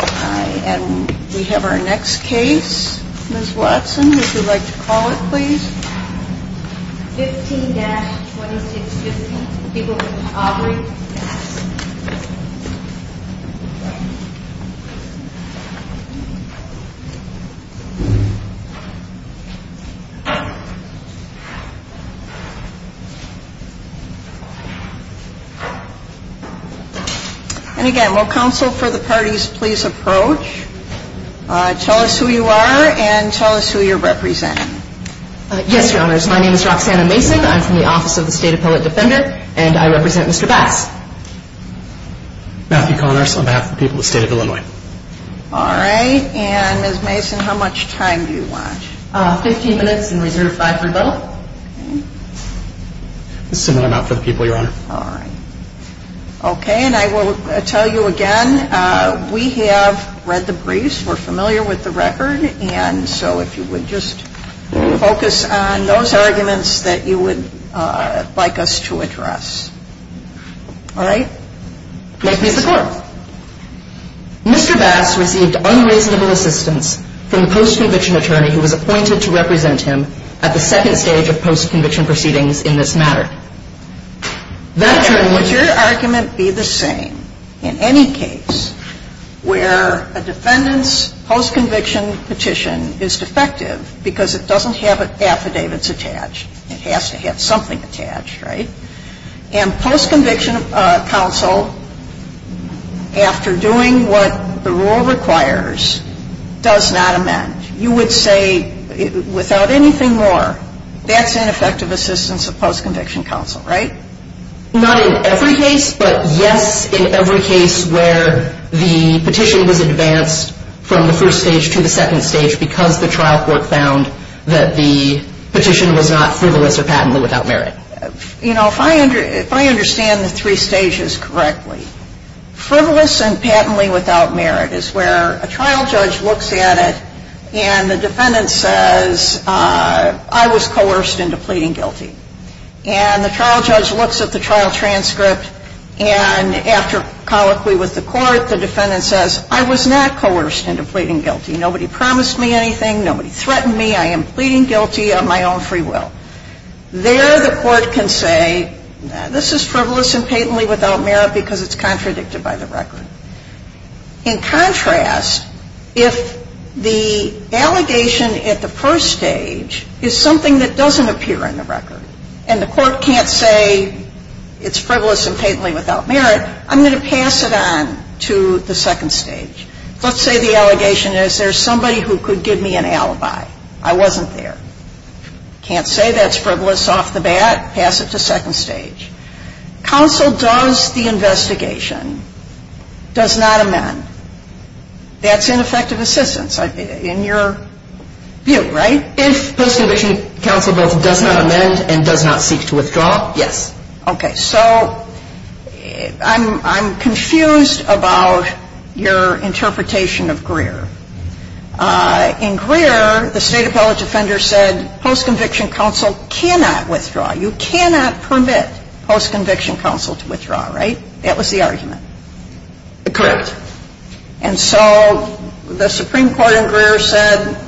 And we have our next case, Ms. Watson, would you like to call it please? 15-2615, people named Aubrey. And again, will counsel for the parties please approach. Tell us who you are and tell us who you're representing. Yes, Your Honors. My name is Roxanna Mason. I'm from the Office of the State Appellate Defender and I represent Mr. Bass. Matthew Connors on behalf of the people of the state of Illinois. All right, and Ms. Mason, how much time do you want? 15 minutes and reserve 5 for both. I'm out for the people, Your Honor. All right. Okay, and I will tell you again, we have read the briefs, we're familiar with the record, and so if you would just focus on those arguments that you would like us to address. All right? Mr. Bass received unreasonable assistance from the post-conviction attorney who was appointed to represent him at the second stage of post-conviction proceedings in this matter. Would your argument be the same in any case where a defendant's post-conviction petition is defective because it doesn't have affidavits attached? It has to have something attached, right? And post-conviction counsel, after doing what the rule requires, does not amend. You would say, without anything more, that's ineffective assistance of post-conviction counsel, right? Not in every case, but yes in every case where the petition was advanced from the first stage to the second stage because the trial court found that the petition was not frivolous or patently without merit. You know, if I understand the three stages correctly, frivolous and patently without merit is where a trial judge looks at it and the defendant says, I was coerced into pleading guilty. And the trial judge looks at the trial transcript and after colloquy with the court, the defendant says, I was not coerced into pleading guilty. Nobody promised me anything, nobody threatened me, I am pleading guilty on my own free will. There the court can say, this is frivolous and patently without merit because it's contradicted by the record. In contrast, if the allegation at the first stage is something that doesn't appear in the record and the court can't say it's frivolous and patently without merit, I'm going to pass it on to the second stage. Let's say the allegation is there's somebody who could give me an alibi. I wasn't there. Can't say that's frivolous off the bat. Pass it to second stage. Counsel does the investigation, does not amend. That's ineffective assistance in your view, right? If post-conviction counsel both does not amend and does not seek to withdraw, yes. So I'm confused about your interpretation of Greer. In Greer, the State Appellate Defender said post-conviction counsel cannot withdraw. You cannot permit post-conviction counsel to withdraw, right? That was the argument. Correct. And so the Supreme Court in Greer said,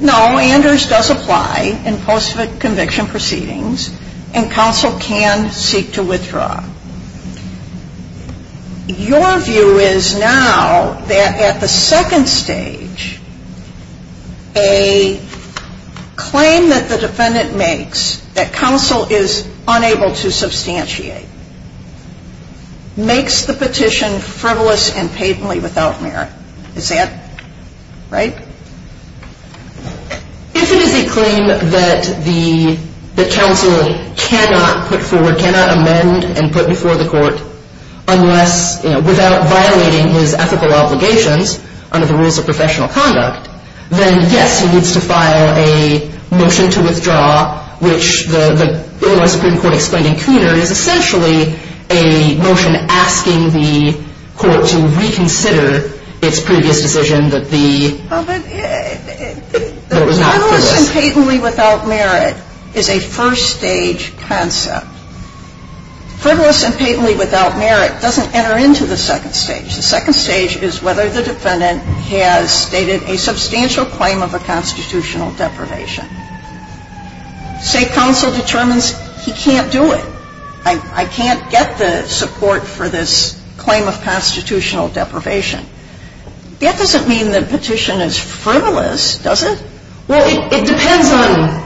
no, Anders does apply in post-conviction proceedings and counsel can seek to withdraw. Your view is now that at the second stage, a claim that the defendant makes that counsel is unable to substantiate makes the petition frivolous and patently without merit. Is that right? If it is a claim that the counsel cannot put forward, cannot amend and put before the court without violating his ethical obligations under the rules of professional conduct, then yes, he needs to file a motion to withdraw, which the Illinois Supreme Court explained in Cooner is essentially a motion asking the court to reconsider its previous decision that the The frivolous and patently without merit is a first stage concept. Frivolous and patently without merit doesn't enter into the second stage. The second stage is whether the defendant has stated a substantial claim of a constitutional deprivation. State counsel determines he can't do it. I can't get the support for this claim of constitutional deprivation. That doesn't mean the petition is frivolous, does it? Well, it depends on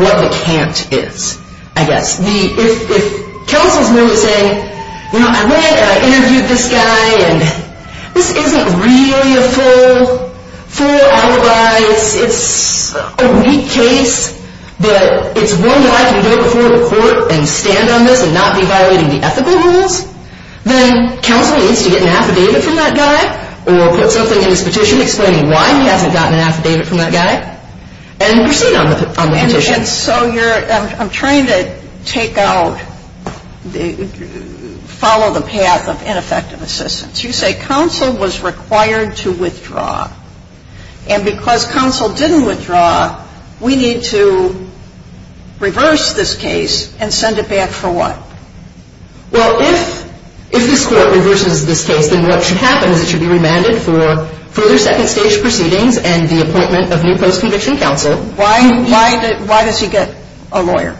what the can't is, I guess. If counsel is merely saying, you know, I went and I interviewed this guy and this isn't really a full, full alibi. It's a weak case, but it's one that I can go before the court and stand on this and not be violating the ethical rules. Then counsel needs to get an affidavit from that guy or put something in his petition explaining why he hasn't gotten an affidavit from that guy and proceed on the petition. And so you're, I'm trying to take out, follow the path of ineffective assistance. You say counsel was required to withdraw. And because counsel didn't withdraw, we need to reverse this case and send it back for what? Well, if this court reverses this case, then what should happen is it should be remanded for further second stage proceedings and the appointment of new post-conviction counsel. Why, why, why does he get a lawyer?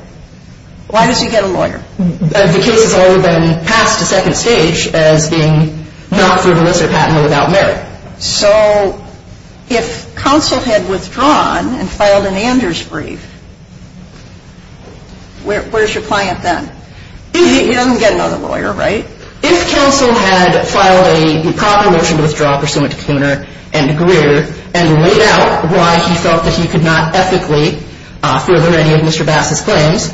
Why does he get a lawyer? The case has already been passed to second stage as being not frivolous or patently without merit. So if counsel had withdrawn and filed an Anders brief, where's your client then? He doesn't get another lawyer, right? If counsel had filed a proper motion to withdraw pursuant to Kooner and Greer and laid out why he felt that he could not ethically further any of Mr. Bass's claims,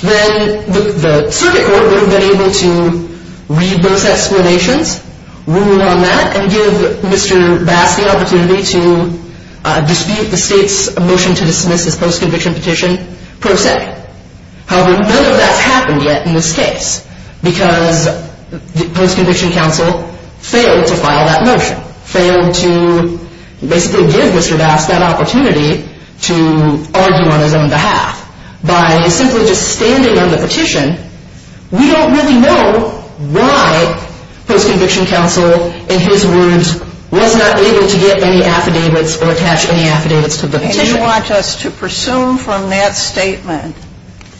then the circuit court would have been able to read those explanations, rule on that, and give Mr. Bass the opportunity to dispute the state's motion to dismiss his post-conviction petition per se. However, none of that's happened yet in this case because post-conviction counsel failed to file that motion, failed to basically give Mr. Bass that opportunity to argue on his own behalf. By simply just standing on the petition, we don't really know why post-conviction counsel, in his words, was not able to get any affidavits or attach any affidavits to the petition. And you want us to presume from that statement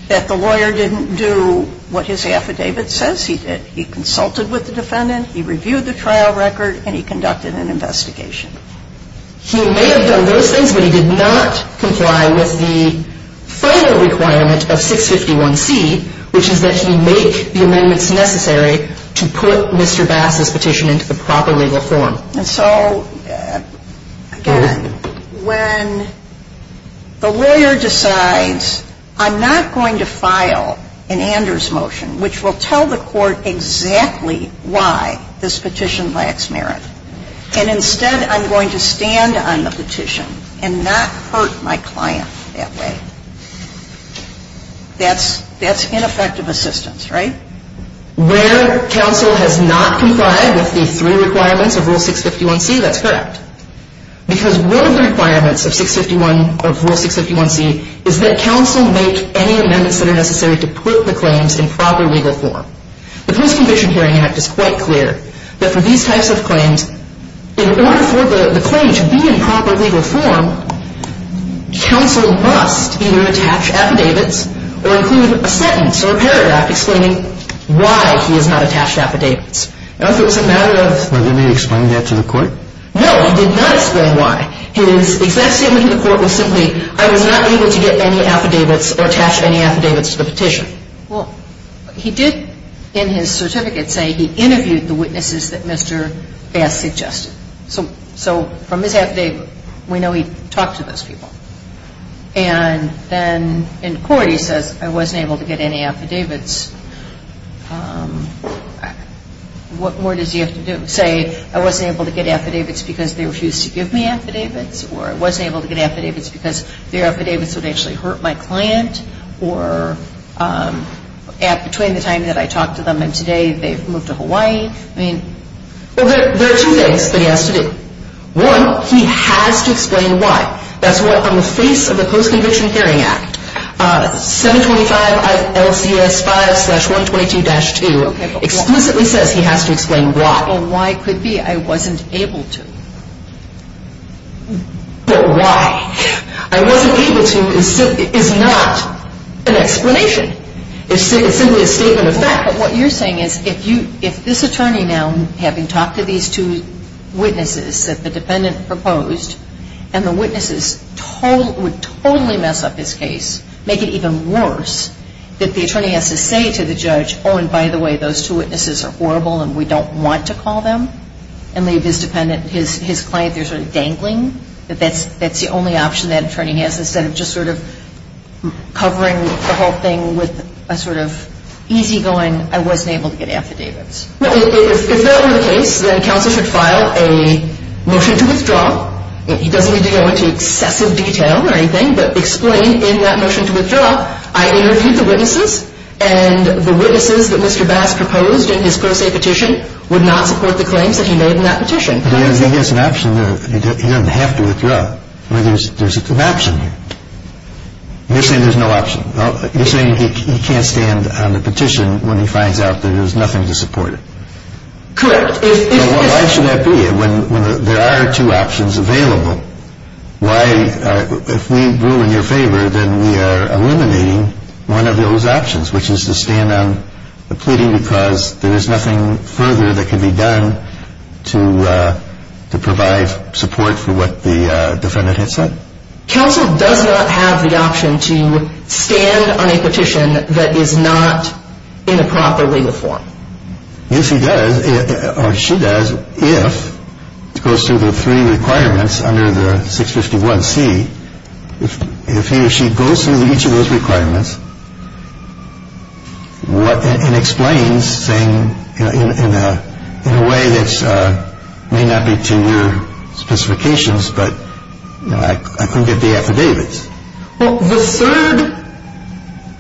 that the lawyer didn't do what his affidavit says he did. He consulted with the defendant, he reviewed the trial record, and he conducted an investigation. He may have done those things, but he did not comply with the final requirement of 651C, which is that he make the amendments necessary to put Mr. Bass's petition into the proper legal form. And so, again, when the lawyer decides I'm not going to file an Anders motion, which will tell the court exactly why this petition lacks merit, and instead I'm going to stand on the petition and not hurt my client that way, that's ineffective assistance, right? Where counsel has not complied with the three requirements of Rule 651C, that's correct. Because one of the requirements of Rule 651C is that counsel make any amendments that are necessary to put the claims in proper legal form. The Post-Conviction Hearing Act is quite clear that for these types of claims, in order for the claim to be in proper legal form, counsel must either attach affidavits or include a sentence or a paragraph explaining why he has not attached affidavits. Now, if it was a matter of — But did he explain that to the court? No, he did not explain why. His exact statement to the court was simply, I was not able to get any affidavits or attach any affidavits to the petition. Well, he did in his certificate say he interviewed the witnesses that Mr. Bass suggested. So from his affidavit, we know he talked to those people. And then in court he says, I wasn't able to get any affidavits. What more does he have to do? Say, I wasn't able to get affidavits because they refused to give me affidavits? Or I wasn't able to get affidavits because their affidavits would actually hurt my client? Or at — between the time that I talked to them and today, they've moved to Hawaii? Well, there are two things that he has to do. One, he has to explain why. That's what, on the face of the Post-Conviction Hearing Act, 725 LCS 5-122-2 explicitly says he has to explain why. Well, why could be I wasn't able to? But why? I wasn't able to is not an explanation. It's simply a statement of fact. But what you're saying is, if this attorney now, having talked to these two witnesses that the dependent proposed, and the witnesses would totally mess up his case, make it even worse, that the attorney has to say to the judge, oh, and by the way, those two witnesses are horrible and we don't want to call them, and leave his client there sort of dangling, that that's the only option that attorney has instead of just sort of covering the whole thing with a sort of easygoing, I wasn't able to get affidavits. Well, if that were the case, then counsel should file a motion to withdraw. He doesn't need to go into excessive detail or anything, but explain in that motion to withdraw, I interviewed the witnesses, and the witnesses that Mr. Bass proposed in his pro se petition would not support the claims that he made in that petition. He has an option there. He doesn't have to withdraw. There's an option here. You're saying there's no option. You're saying he can't stand on the petition when he finds out that there's nothing to support it. Correct. Why should that be? When there are two options available, why, if we rule in your favor, then we are eliminating one of those options, which is to stand on the pleading because there is nothing further that can be done to provide support for what the defendant has said. Counsel does not have the option to stand on a petition that is not in a proper legal form. Yes, he does, or she does, if it goes through the three requirements under the 651C. If he or she goes through each of those requirements and explains, saying in a way that may not be to your specifications, but I couldn't get the affidavits. Well, the third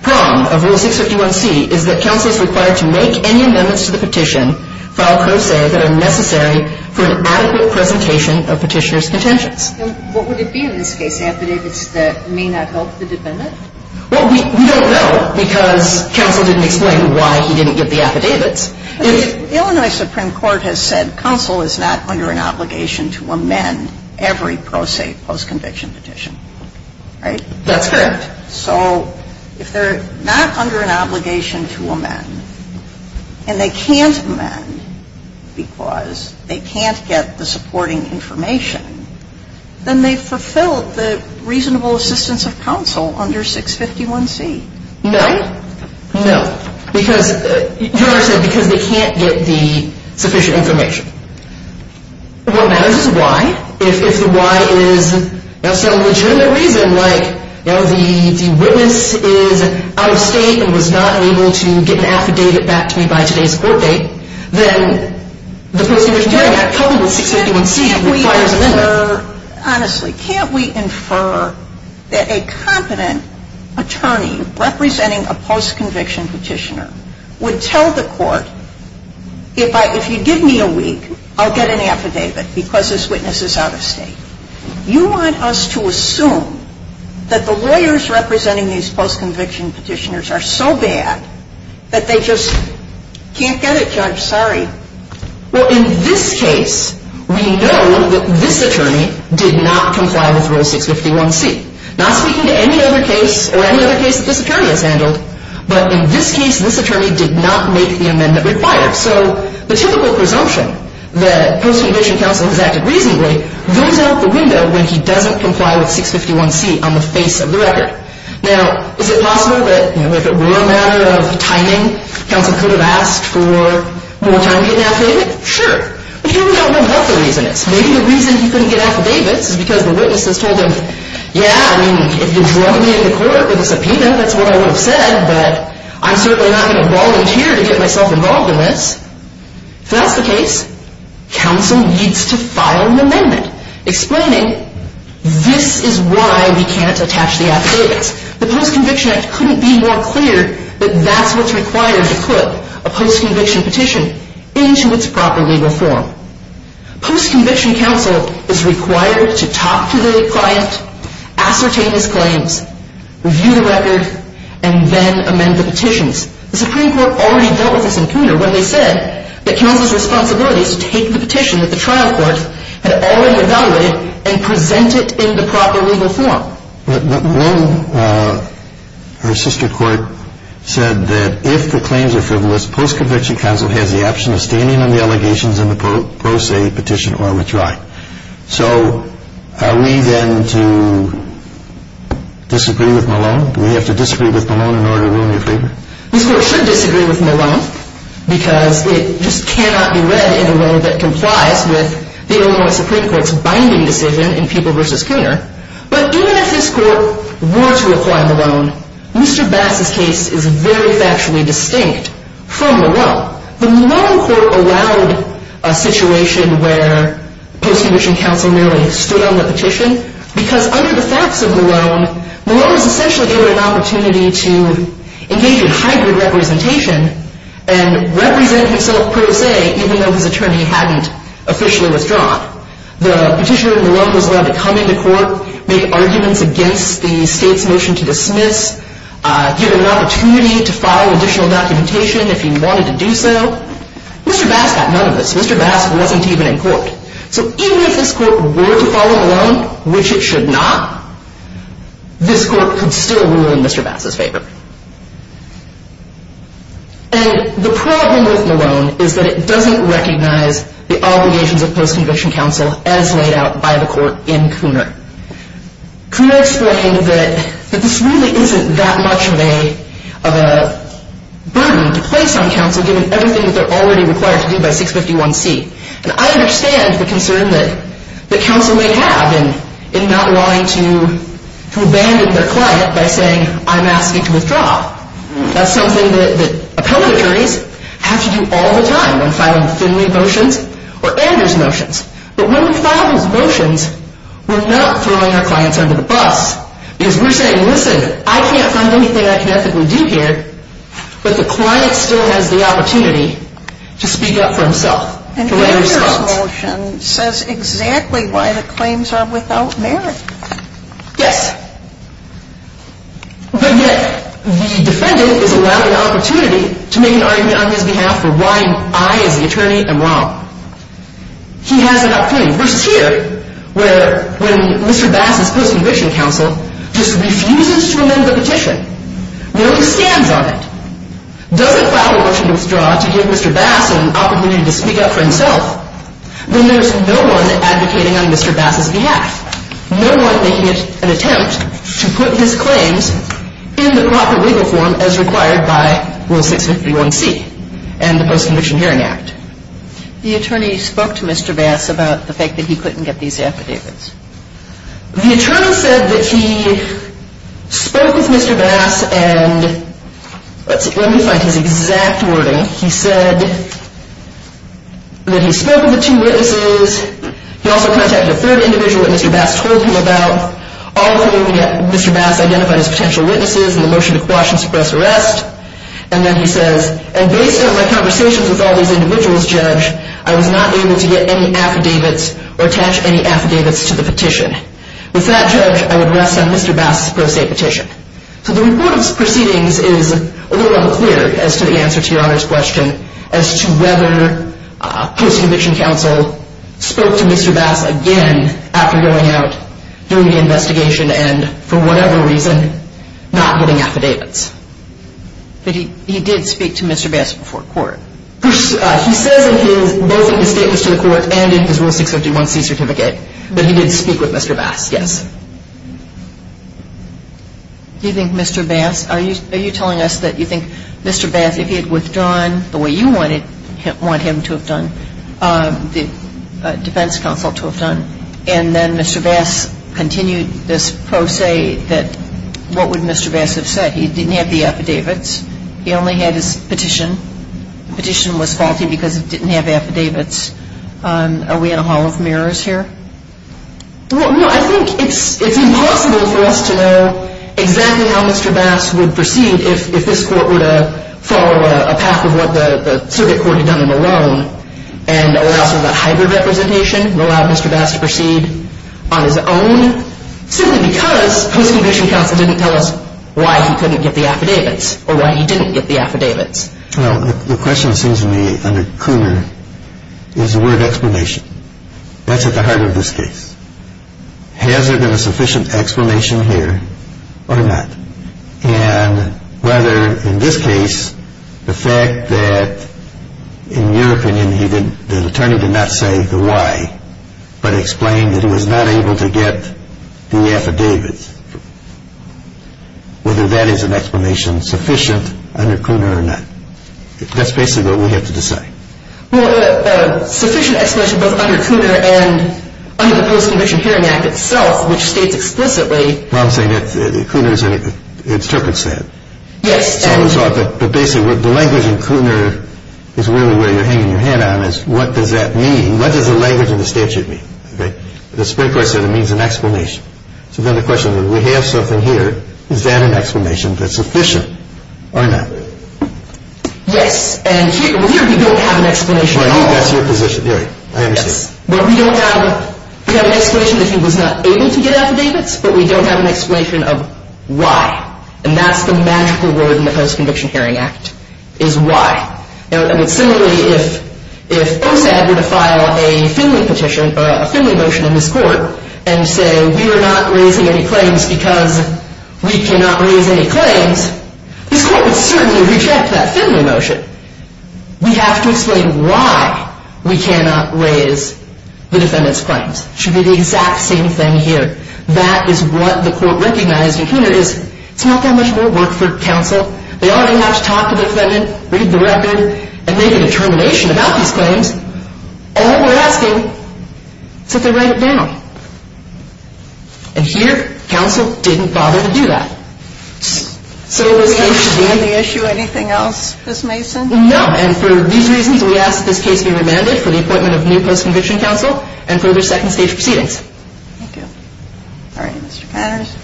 prong of Rule 651C is that counsel is required to make any amendments to the petition, file pro se, that are necessary for an adequate presentation of petitioner's contentions. What would it be in this case, affidavits that may not help the defendant? Well, we don't know because counsel didn't explain why he didn't get the affidavits. The Illinois Supreme Court has said counsel is not under an obligation to amend every pro se post-conviction petition. Right? That's correct. So if they're not under an obligation to amend, and they can't amend because they can't get the supporting information, then they've fulfilled the reasonable assistance of counsel under 651C. No. No. Because, your Honor said because they can't get the sufficient information. What matters is why. If the why is a legitimate reason, like, you know, the witness is out of state and was not able to get an affidavit back to me by today's court date, then the post-conviction hearing, coupled with 651C, requires a limit. Honestly, can't we infer that a competent attorney representing a post-conviction petitioner would tell the court, if you give me a week, I'll get an affidavit because this witness is out of state. You want us to assume that the lawyers representing these post-conviction petitioners are so bad that they just can't get it, Judge? Sorry. Well, in this case, we know that this attorney did not comply with Rule 651C. Not speaking to any other case or any other case that this attorney has handled, but in this case, this attorney did not make the amendment required. So the typical presumption that post-conviction counsel has acted reasonably goes out the window when he doesn't comply with 651C on the face of the record. Now, is it possible that if it were a matter of timing, counsel could have asked for more time to get an affidavit? Sure. But here we don't know what the reason is. Maybe the reason he couldn't get affidavits is because the witness has told him, yeah, I mean, if you're drugging me in the court with a subpoena, that's what I would have said, but I'm certainly not going to volunteer to get myself involved in this. If that's the case, counsel needs to file an amendment explaining, this is why we can't attach the affidavits. The Post-Conviction Act couldn't be more clear that that's what's required to put a post-conviction petition into its proper legal form. Post-conviction counsel is required to talk to the client, ascertain his claims, review the record, and then amend the petitions. The Supreme Court already dealt with this in Cooner when they said that counsel's responsibility is to take the petition that the trial court had already evaluated and present it in the proper legal form. But Malone, her sister court, said that if the claims are frivolous, post-conviction counsel has the option of standing on the allegations in the pro se petition or withdrawing. So are we then to disagree with Malone? Do we have to disagree with Malone in order to rule in your favor? This court should disagree with Malone because it just cannot be read in a way that complies with the Illinois Supreme Court's binding decision in People v. Cooner. But even if this court were to apply Malone, Mr. Bass's case is very factually distinct from Malone. The Malone court allowed a situation where post-conviction counsel merely stood on the petition because under the facts of Malone, Malone was essentially given an opportunity to engage in hybrid representation and represent himself pro se even though his attorney hadn't officially withdrawn. The petitioner in Malone was allowed to come into court, make arguments against the state's motion to dismiss, given an opportunity to file additional documentation if he wanted to do so. Mr. Bass got none of this. Mr. Bass wasn't even in court. So even if this court were to follow Malone, which it should not, this court could still rule in Mr. Bass's favor. And the problem with Malone is that it doesn't recognize the obligations of post-conviction counsel as laid out by the court in Cooner. Cooner explained that this really isn't that much of a burden to place on counsel given everything that they're already required to do by 651C. And I understand the concern that counsel may have in not wanting to abandon their client by saying, I'm asking to withdraw. That's something that appellate attorneys have to do all the time when filing Finley motions or Anders motions. But when we file those motions, we're not throwing our clients under the bus because we're saying, listen, I can't find anything I can ethically do here, but the client still has the opportunity to speak up for himself. And Anders' motion says exactly why the claims are without merit. Yes. But yet the defendant is allowed the opportunity to make an argument on his behalf for why I as the attorney am wrong. He has an opportunity. Versus here, where when Mr. Bass's post-conviction counsel just refuses to amend the petition, where he stands on it, doesn't file a motion to withdraw to give Mr. Bass an opportunity to speak up for himself, then there's no one advocating on Mr. Bass's behalf, no one making an attempt to put his claims in the proper legal form as required by Rule 651C and the Post-Conviction Hearing Act. The attorney spoke to Mr. Bass about the fact that he couldn't get these affidavits. The attorney said that he spoke with Mr. Bass and let me find his exact wording. He said that he spoke with the two witnesses. He also contacted a third individual that Mr. Bass told him about. All three of them, Mr. Bass identified as potential witnesses in the motion to quash and suppress arrest. And then he says, and based on my conversations with all these individuals, judge, I was not able to get any affidavits or attach any affidavits to the petition. With that, judge, I would rest on Mr. Bass's pro se petition. So the report of proceedings is a little unclear as to the answer to your Honor's question as to whether post-conviction counsel spoke to Mr. Bass again after going out, doing the investigation and, for whatever reason, not getting affidavits. But he did speak to Mr. Bass before court. He says in his, both in his statements to the court and in his Rule 651C certificate, that he did speak with Mr. Bass, yes. Do you think Mr. Bass, are you telling us that you think Mr. Bass, if he had withdrawn the way you wanted him to have done, the defense counsel to have done, and then Mr. Bass continued this pro se that, what would Mr. Bass have said? He didn't have the affidavits. He only had his petition. The petition was faulty because it didn't have affidavits. Are we in a hall of mirrors here? Well, no, I think it's impossible for us to know exactly how Mr. Bass would proceed if this court were to follow a path of what the circuit court had done in Malone and allow some of that hybrid representation and allow Mr. Bass to proceed on his own, simply because post-conviction counsel didn't tell us why he couldn't get the affidavits or why he didn't get the affidavits. Well, the question seems to me, under Cooner, is the word explanation. That's at the heart of this case. Has there been a sufficient explanation here or not? And whether in this case the fact that, in your opinion, the attorney did not say the why, but explained that he was not able to get the affidavits, whether that is an explanation sufficient under Cooner or not. That's basically what we have to decide. Well, sufficient explanation both under Cooner and under the Post-Conviction Hearing Act itself, which states explicitly. Well, I'm saying that Cooner interprets that. Yes. But basically, the language in Cooner is really where you're hanging your head on, is what does that mean? And what does the language in the statute mean? The Supreme Court said it means an explanation. So then the question is, we have something here. Is that an explanation that's sufficient or not? Yes. And here we don't have an explanation at all. That's your position. All right. I understand. But we don't have an explanation that he was not able to get affidavits, but we don't have an explanation of why. And that's the magical word in the Post-Conviction Hearing Act is why. And similarly, if OSAD were to file a Finley motion in this court and say we are not raising any claims because we cannot raise any claims, this court would certainly reject that Finley motion. We have to explain why we cannot raise the defendant's claims. It should be the exact same thing here. That is what the court recognized in Cooner is it's not that much more work for counsel. They already have to talk to the defendant, read the record, and make a determination about these claims. All we're asking is that they write it down. And here, counsel didn't bother to do that. So this case should be ---- Do we understand the issue anything else, Ms. Mason? No. And for these reasons, we ask that this case be remanded for the appointment of new post-conviction counsel and further second stage proceedings. Thank you. All right. Mr. Connors.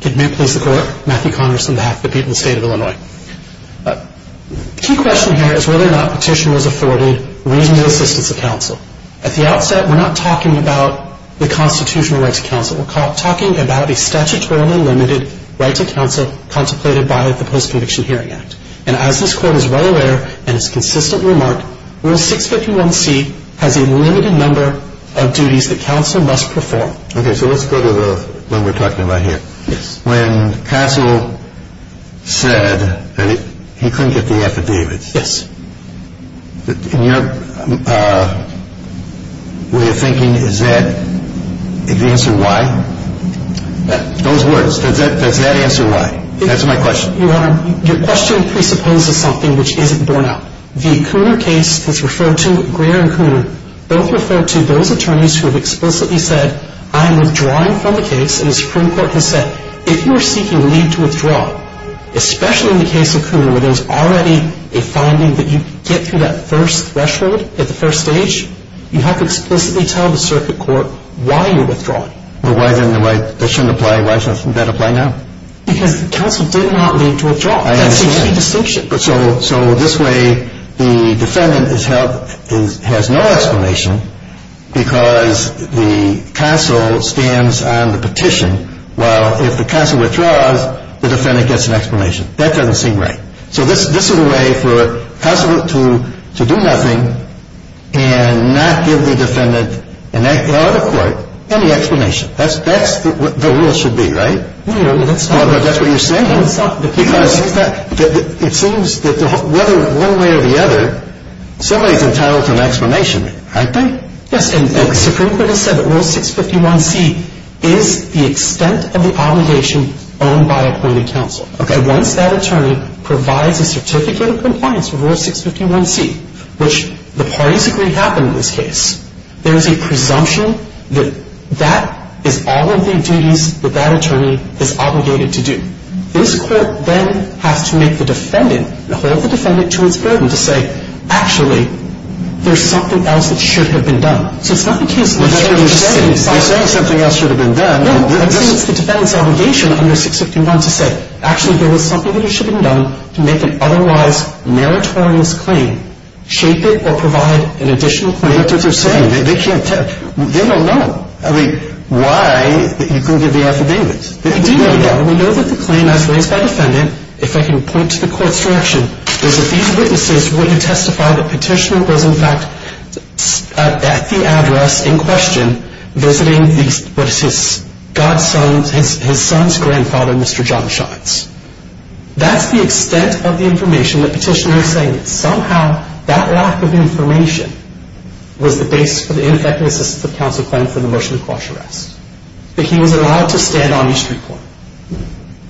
Good afternoon, please, the Court. Matthew Connors on behalf of the people of the State of Illinois. The key question here is whether or not petition was afforded reasonable assistance of counsel. At the outset, we're not talking about the constitutional rights of counsel. We're talking about a statutorily limited right to counsel contemplated by the Post-Conviction Hearing Act. And as a result of this recent remark, Rule 651C has a limited number of duties that counsel must perform. Okay. So let's go to the one we're talking about here. Yes. When counsel said that he couldn't get the affidavits. Yes. In your way of thinking, is that the answer why? Those words, does that answer why? That's my question. Your Honor, your question presupposes something which isn't borne out. The Cooner case that's referred to, Greer and Cooner, both refer to those attorneys who have explicitly said, I'm withdrawing from the case, and the Supreme Court can say, if you're seeking leave to withdraw, especially in the case of Cooner where there's already a finding that you get through that first threshold at the first stage, you have to explicitly tell the circuit court why you're withdrawing. Well, why didn't the right petition apply? Why doesn't that apply now? Because counsel did not leave to withdraw. I understand. That's the only distinction. So this way the defendant has no explanation because the counsel stands on the petition, while if the counsel withdraws, the defendant gets an explanation. That doesn't seem right. So this is a way for counsel to do nothing and not give the defendant or the court any explanation. That's what the rule should be, right? That's what you're saying. Because it seems that one way or the other, somebody's entitled to an explanation, aren't they? Yes, and the Supreme Court has said that Rule 651C is the extent of the obligation owned by appointed counsel. Okay. And once that attorney provides a certificate of compliance with Rule 651C, which the parties agree happened in this case, there is a presumption that that is all of the duties that that attorney is obligated to do. This court then has to make the defendant and hold the defendant to its burden to say, actually, there's something else that should have been done. So it's not the case that you're saying something else should have been done. No, I'm saying it's the defendant's obligation under 651 to say, actually, there was something that should have been done to make an otherwise meritorious claim, shape it or provide an additional claim. That's what they're saying. They can't tell. They don't know. I mean, why you couldn't give the affidavits? We do know that. We know that the claim as raised by the defendant, if I can point to the court's direction, is that these witnesses were to testify that Petitioner was, in fact, at the address in question, visiting his son's grandfather, Mr. John Shines. That's the extent of the information that Petitioner is saying. Somehow, that lack of information was the basis for the ineffective assistance of counsel claim for the motion to quash arrest, that he was allowed to stand on the street corner.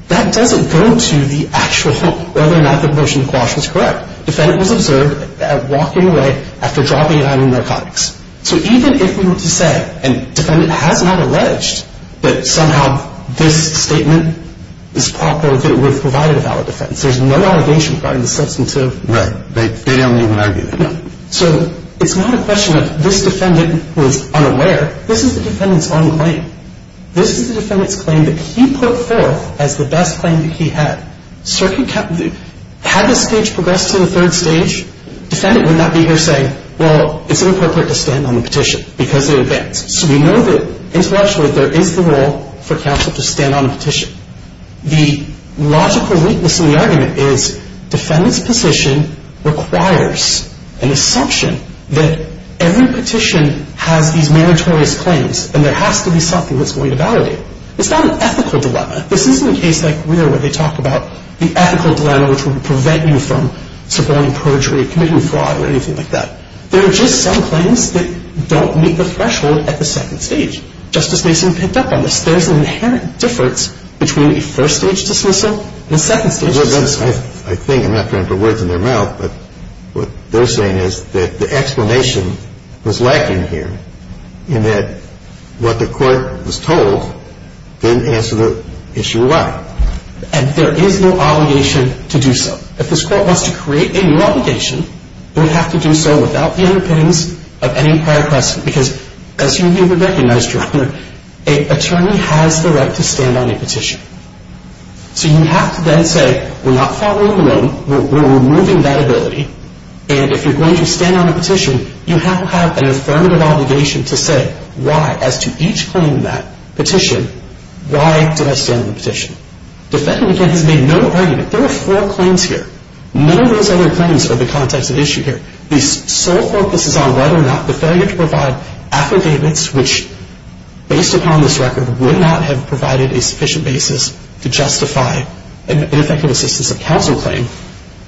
That doesn't go to the actual whether or not the motion to quash was correct. The defendant was observed walking away after dropping an item of narcotics. So even if we were to say, and the defendant has not alleged, that somehow this statement is proper, that it would have provided a valid defense, there's no allegation regarding the substantive. Right. They don't even argue that. No. So it's not a question of this defendant was unaware. This is the defendant's own claim. This is the defendant's claim that he put forth as the best claim that he had. Had this case progressed to the third stage, the defendant would not be here saying, well, it's inappropriate to stand on the petition because it advanced. So we know that intellectually there is the role for counsel to stand on a petition. The logical weakness in the argument is defendant's position requires an assumption that every petition has these meritorious claims, and there has to be something that's going to validate it. It's not an ethical dilemma. This isn't a case like where they talk about the ethical dilemma, which would prevent you from supporting perjury, committing fraud, or anything like that. There are just some claims that don't meet the threshold at the second stage. Justice Mason picked up on this. There's an inherent difference between a first-stage dismissal and a second-stage dismissal. I think, I'm not trying to put words in their mouth, but what they're saying is that the explanation was lacking here, in that what the court was told didn't answer the issue well. And there is no obligation to do so. If this court wants to create a new obligation, it would have to do so without the underpinnings of any prior question because, as you would recognize, Your Honor, an attorney has the right to stand on a petition. So you have to then say, we're not following along. We're removing that ability, and if you're going to stand on a petition, you have to have an affirmative obligation to say why, as to each claim in that petition, why did I stand on the petition? Defendant, again, has made no argument. There are four claims here. None of those other claims are the context of issue here. The sole focus is on whether or not the failure to provide affidavits which, based upon this record, would not have provided a sufficient basis to justify an effective assistance of counsel claim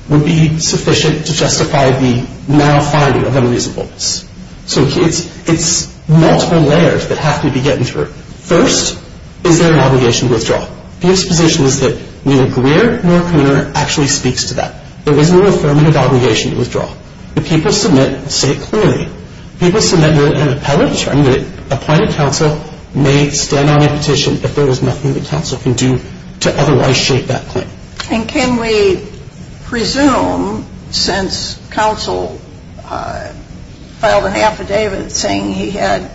would be sufficient to justify the now finding of unreasonableness. So it's multiple layers that have to be getting through. First, is there an obligation to withdraw? The exposition is that neither Greer nor Cooner actually speaks to that. There is no affirmative obligation to withdraw. If people submit, say it clearly. If people submit an appellate claim, a plaintiff counsel may stand on a petition if there is nothing the counsel can do to otherwise shape that claim. And can we presume, since counsel filed an affidavit saying he had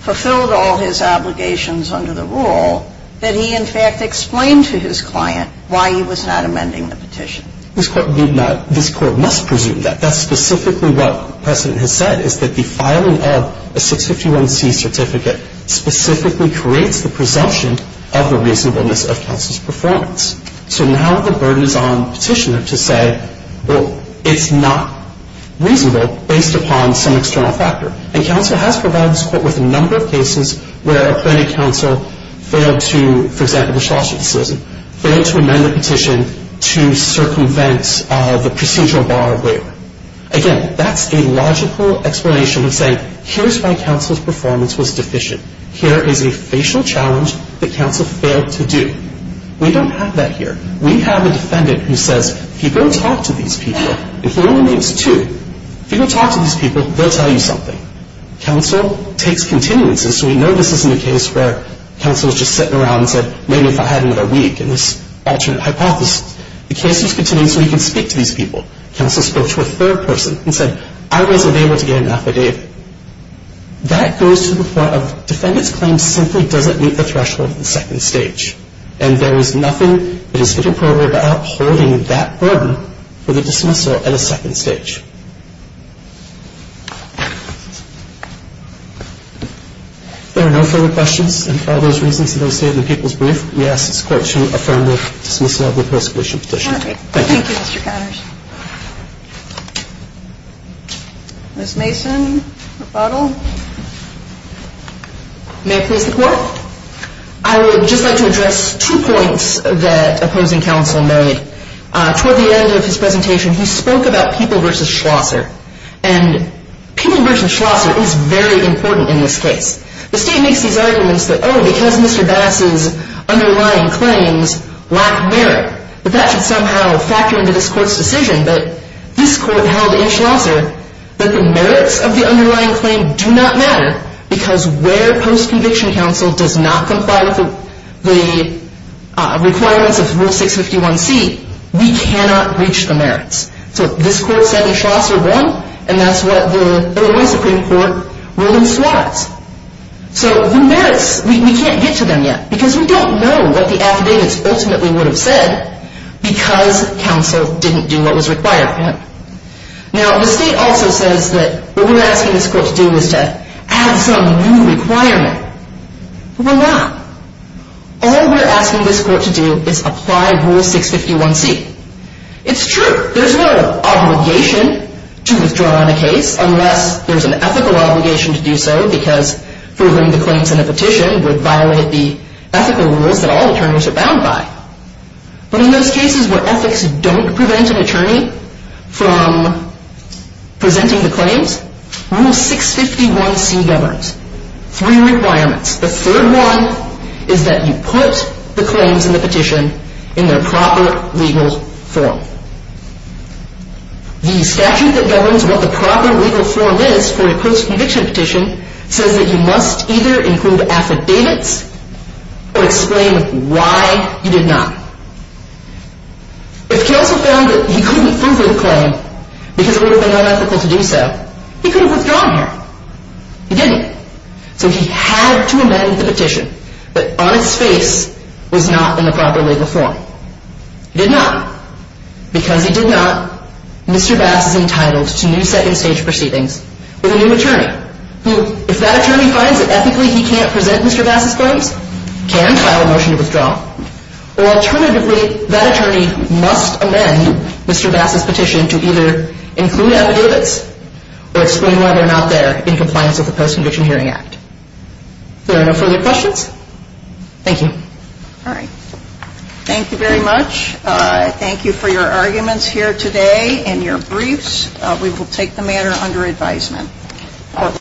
fulfilled all his obligations under the rule, that he in fact explained to his client why he was not amending the petition? This Court did not. This Court must presume that. That's specifically what precedent has said, is that the filing of a 651C certificate specifically creates the presumption of the reasonableness of counsel's performance. So now the burden is on the petitioner to say, well, it's not reasonable based upon some external factor. And counsel has provided this Court with a number of cases where a plaintiff counsel failed to, for example, the Schlosser decision, failed to amend the petition to circumvent the procedural bar of waiver. Again, that's a logical explanation of saying, here's why counsel's performance was deficient. Here is a facial challenge that counsel failed to do. We don't have that here. We have a defendant who says, if you go talk to these people, and he only names two, if you go talk to these people, they'll tell you something. Counsel takes continuances. So we know this isn't a case where counsel is just sitting around and said, maybe if I had another week in this alternate hypothesis. The case was continued so he could speak to these people. Counsel spoke to a third person and said, I wasn't able to get an affidavit. That goes to the point of defendant's claim simply doesn't meet the threshold of the second stage. And there is nothing that is fit and proper about holding that burden for the dismissal at a second stage. If there are no further questions, and for all those reasons that are stated in the people's brief, we ask this Court to affirm the dismissal of the persecution petition. Thank you. Thank you, Mr. Connors. Ms. Mason, rebuttal. May I please report? I would just like to address two points that opposing counsel made. Toward the end of his presentation, he spoke about People v. Schlosser. And People v. Schlosser is very important in this case. The State makes these arguments that, oh, because Mr. Bass's underlying claims lack merit, that that should somehow factor into this Court's decision. But this Court held in Schlosser that the merits of the underlying claim do not matter because where post-conviction counsel does not comply with the requirements of Rule 651C, we cannot breach the merits. So this Court said that Schlosser won, and that's what the Illinois Supreme Court rules was. So the merits, we can't get to them yet because we don't know what the affidavits ultimately would have said because counsel didn't do what was required of him. Now, the State also says that what we're asking this Court to do is to add some new requirement. But we're not. All we're asking this Court to do is apply Rule 651C. It's true. There's no obligation to withdraw on a case unless there's an ethical obligation to do so because proving the claims in a petition would violate the ethical rules that all attorneys are bound by. But in those cases where ethics don't prevent an attorney from presenting the claims, Rule 651C governs three requirements. The third one is that you put the claims in the petition in their proper legal form. The statute that governs what the proper legal form is for a post-conviction petition says that you must either include affidavits or explain why you did not. If counsel found that he couldn't prove with a claim because it would have been unethical to do so, he could have withdrawn here. He didn't. So he had to amend the petition, but on its face was not in the proper legal form. He did not because he did not. Now, Mr. Bass is entitled to new second-stage proceedings with a new attorney who, if that attorney finds that ethically he can't present Mr. Bass's claims, can file a motion to withdraw. Or alternatively, that attorney must amend Mr. Bass's petition to either include affidavits or explain why they're not there in compliance with the Post-Conviction Hearing Act. If there are no further questions, thank you. All right. Thank you very much. Thank you for your arguments here today and your briefs. We will take the matter under advisement.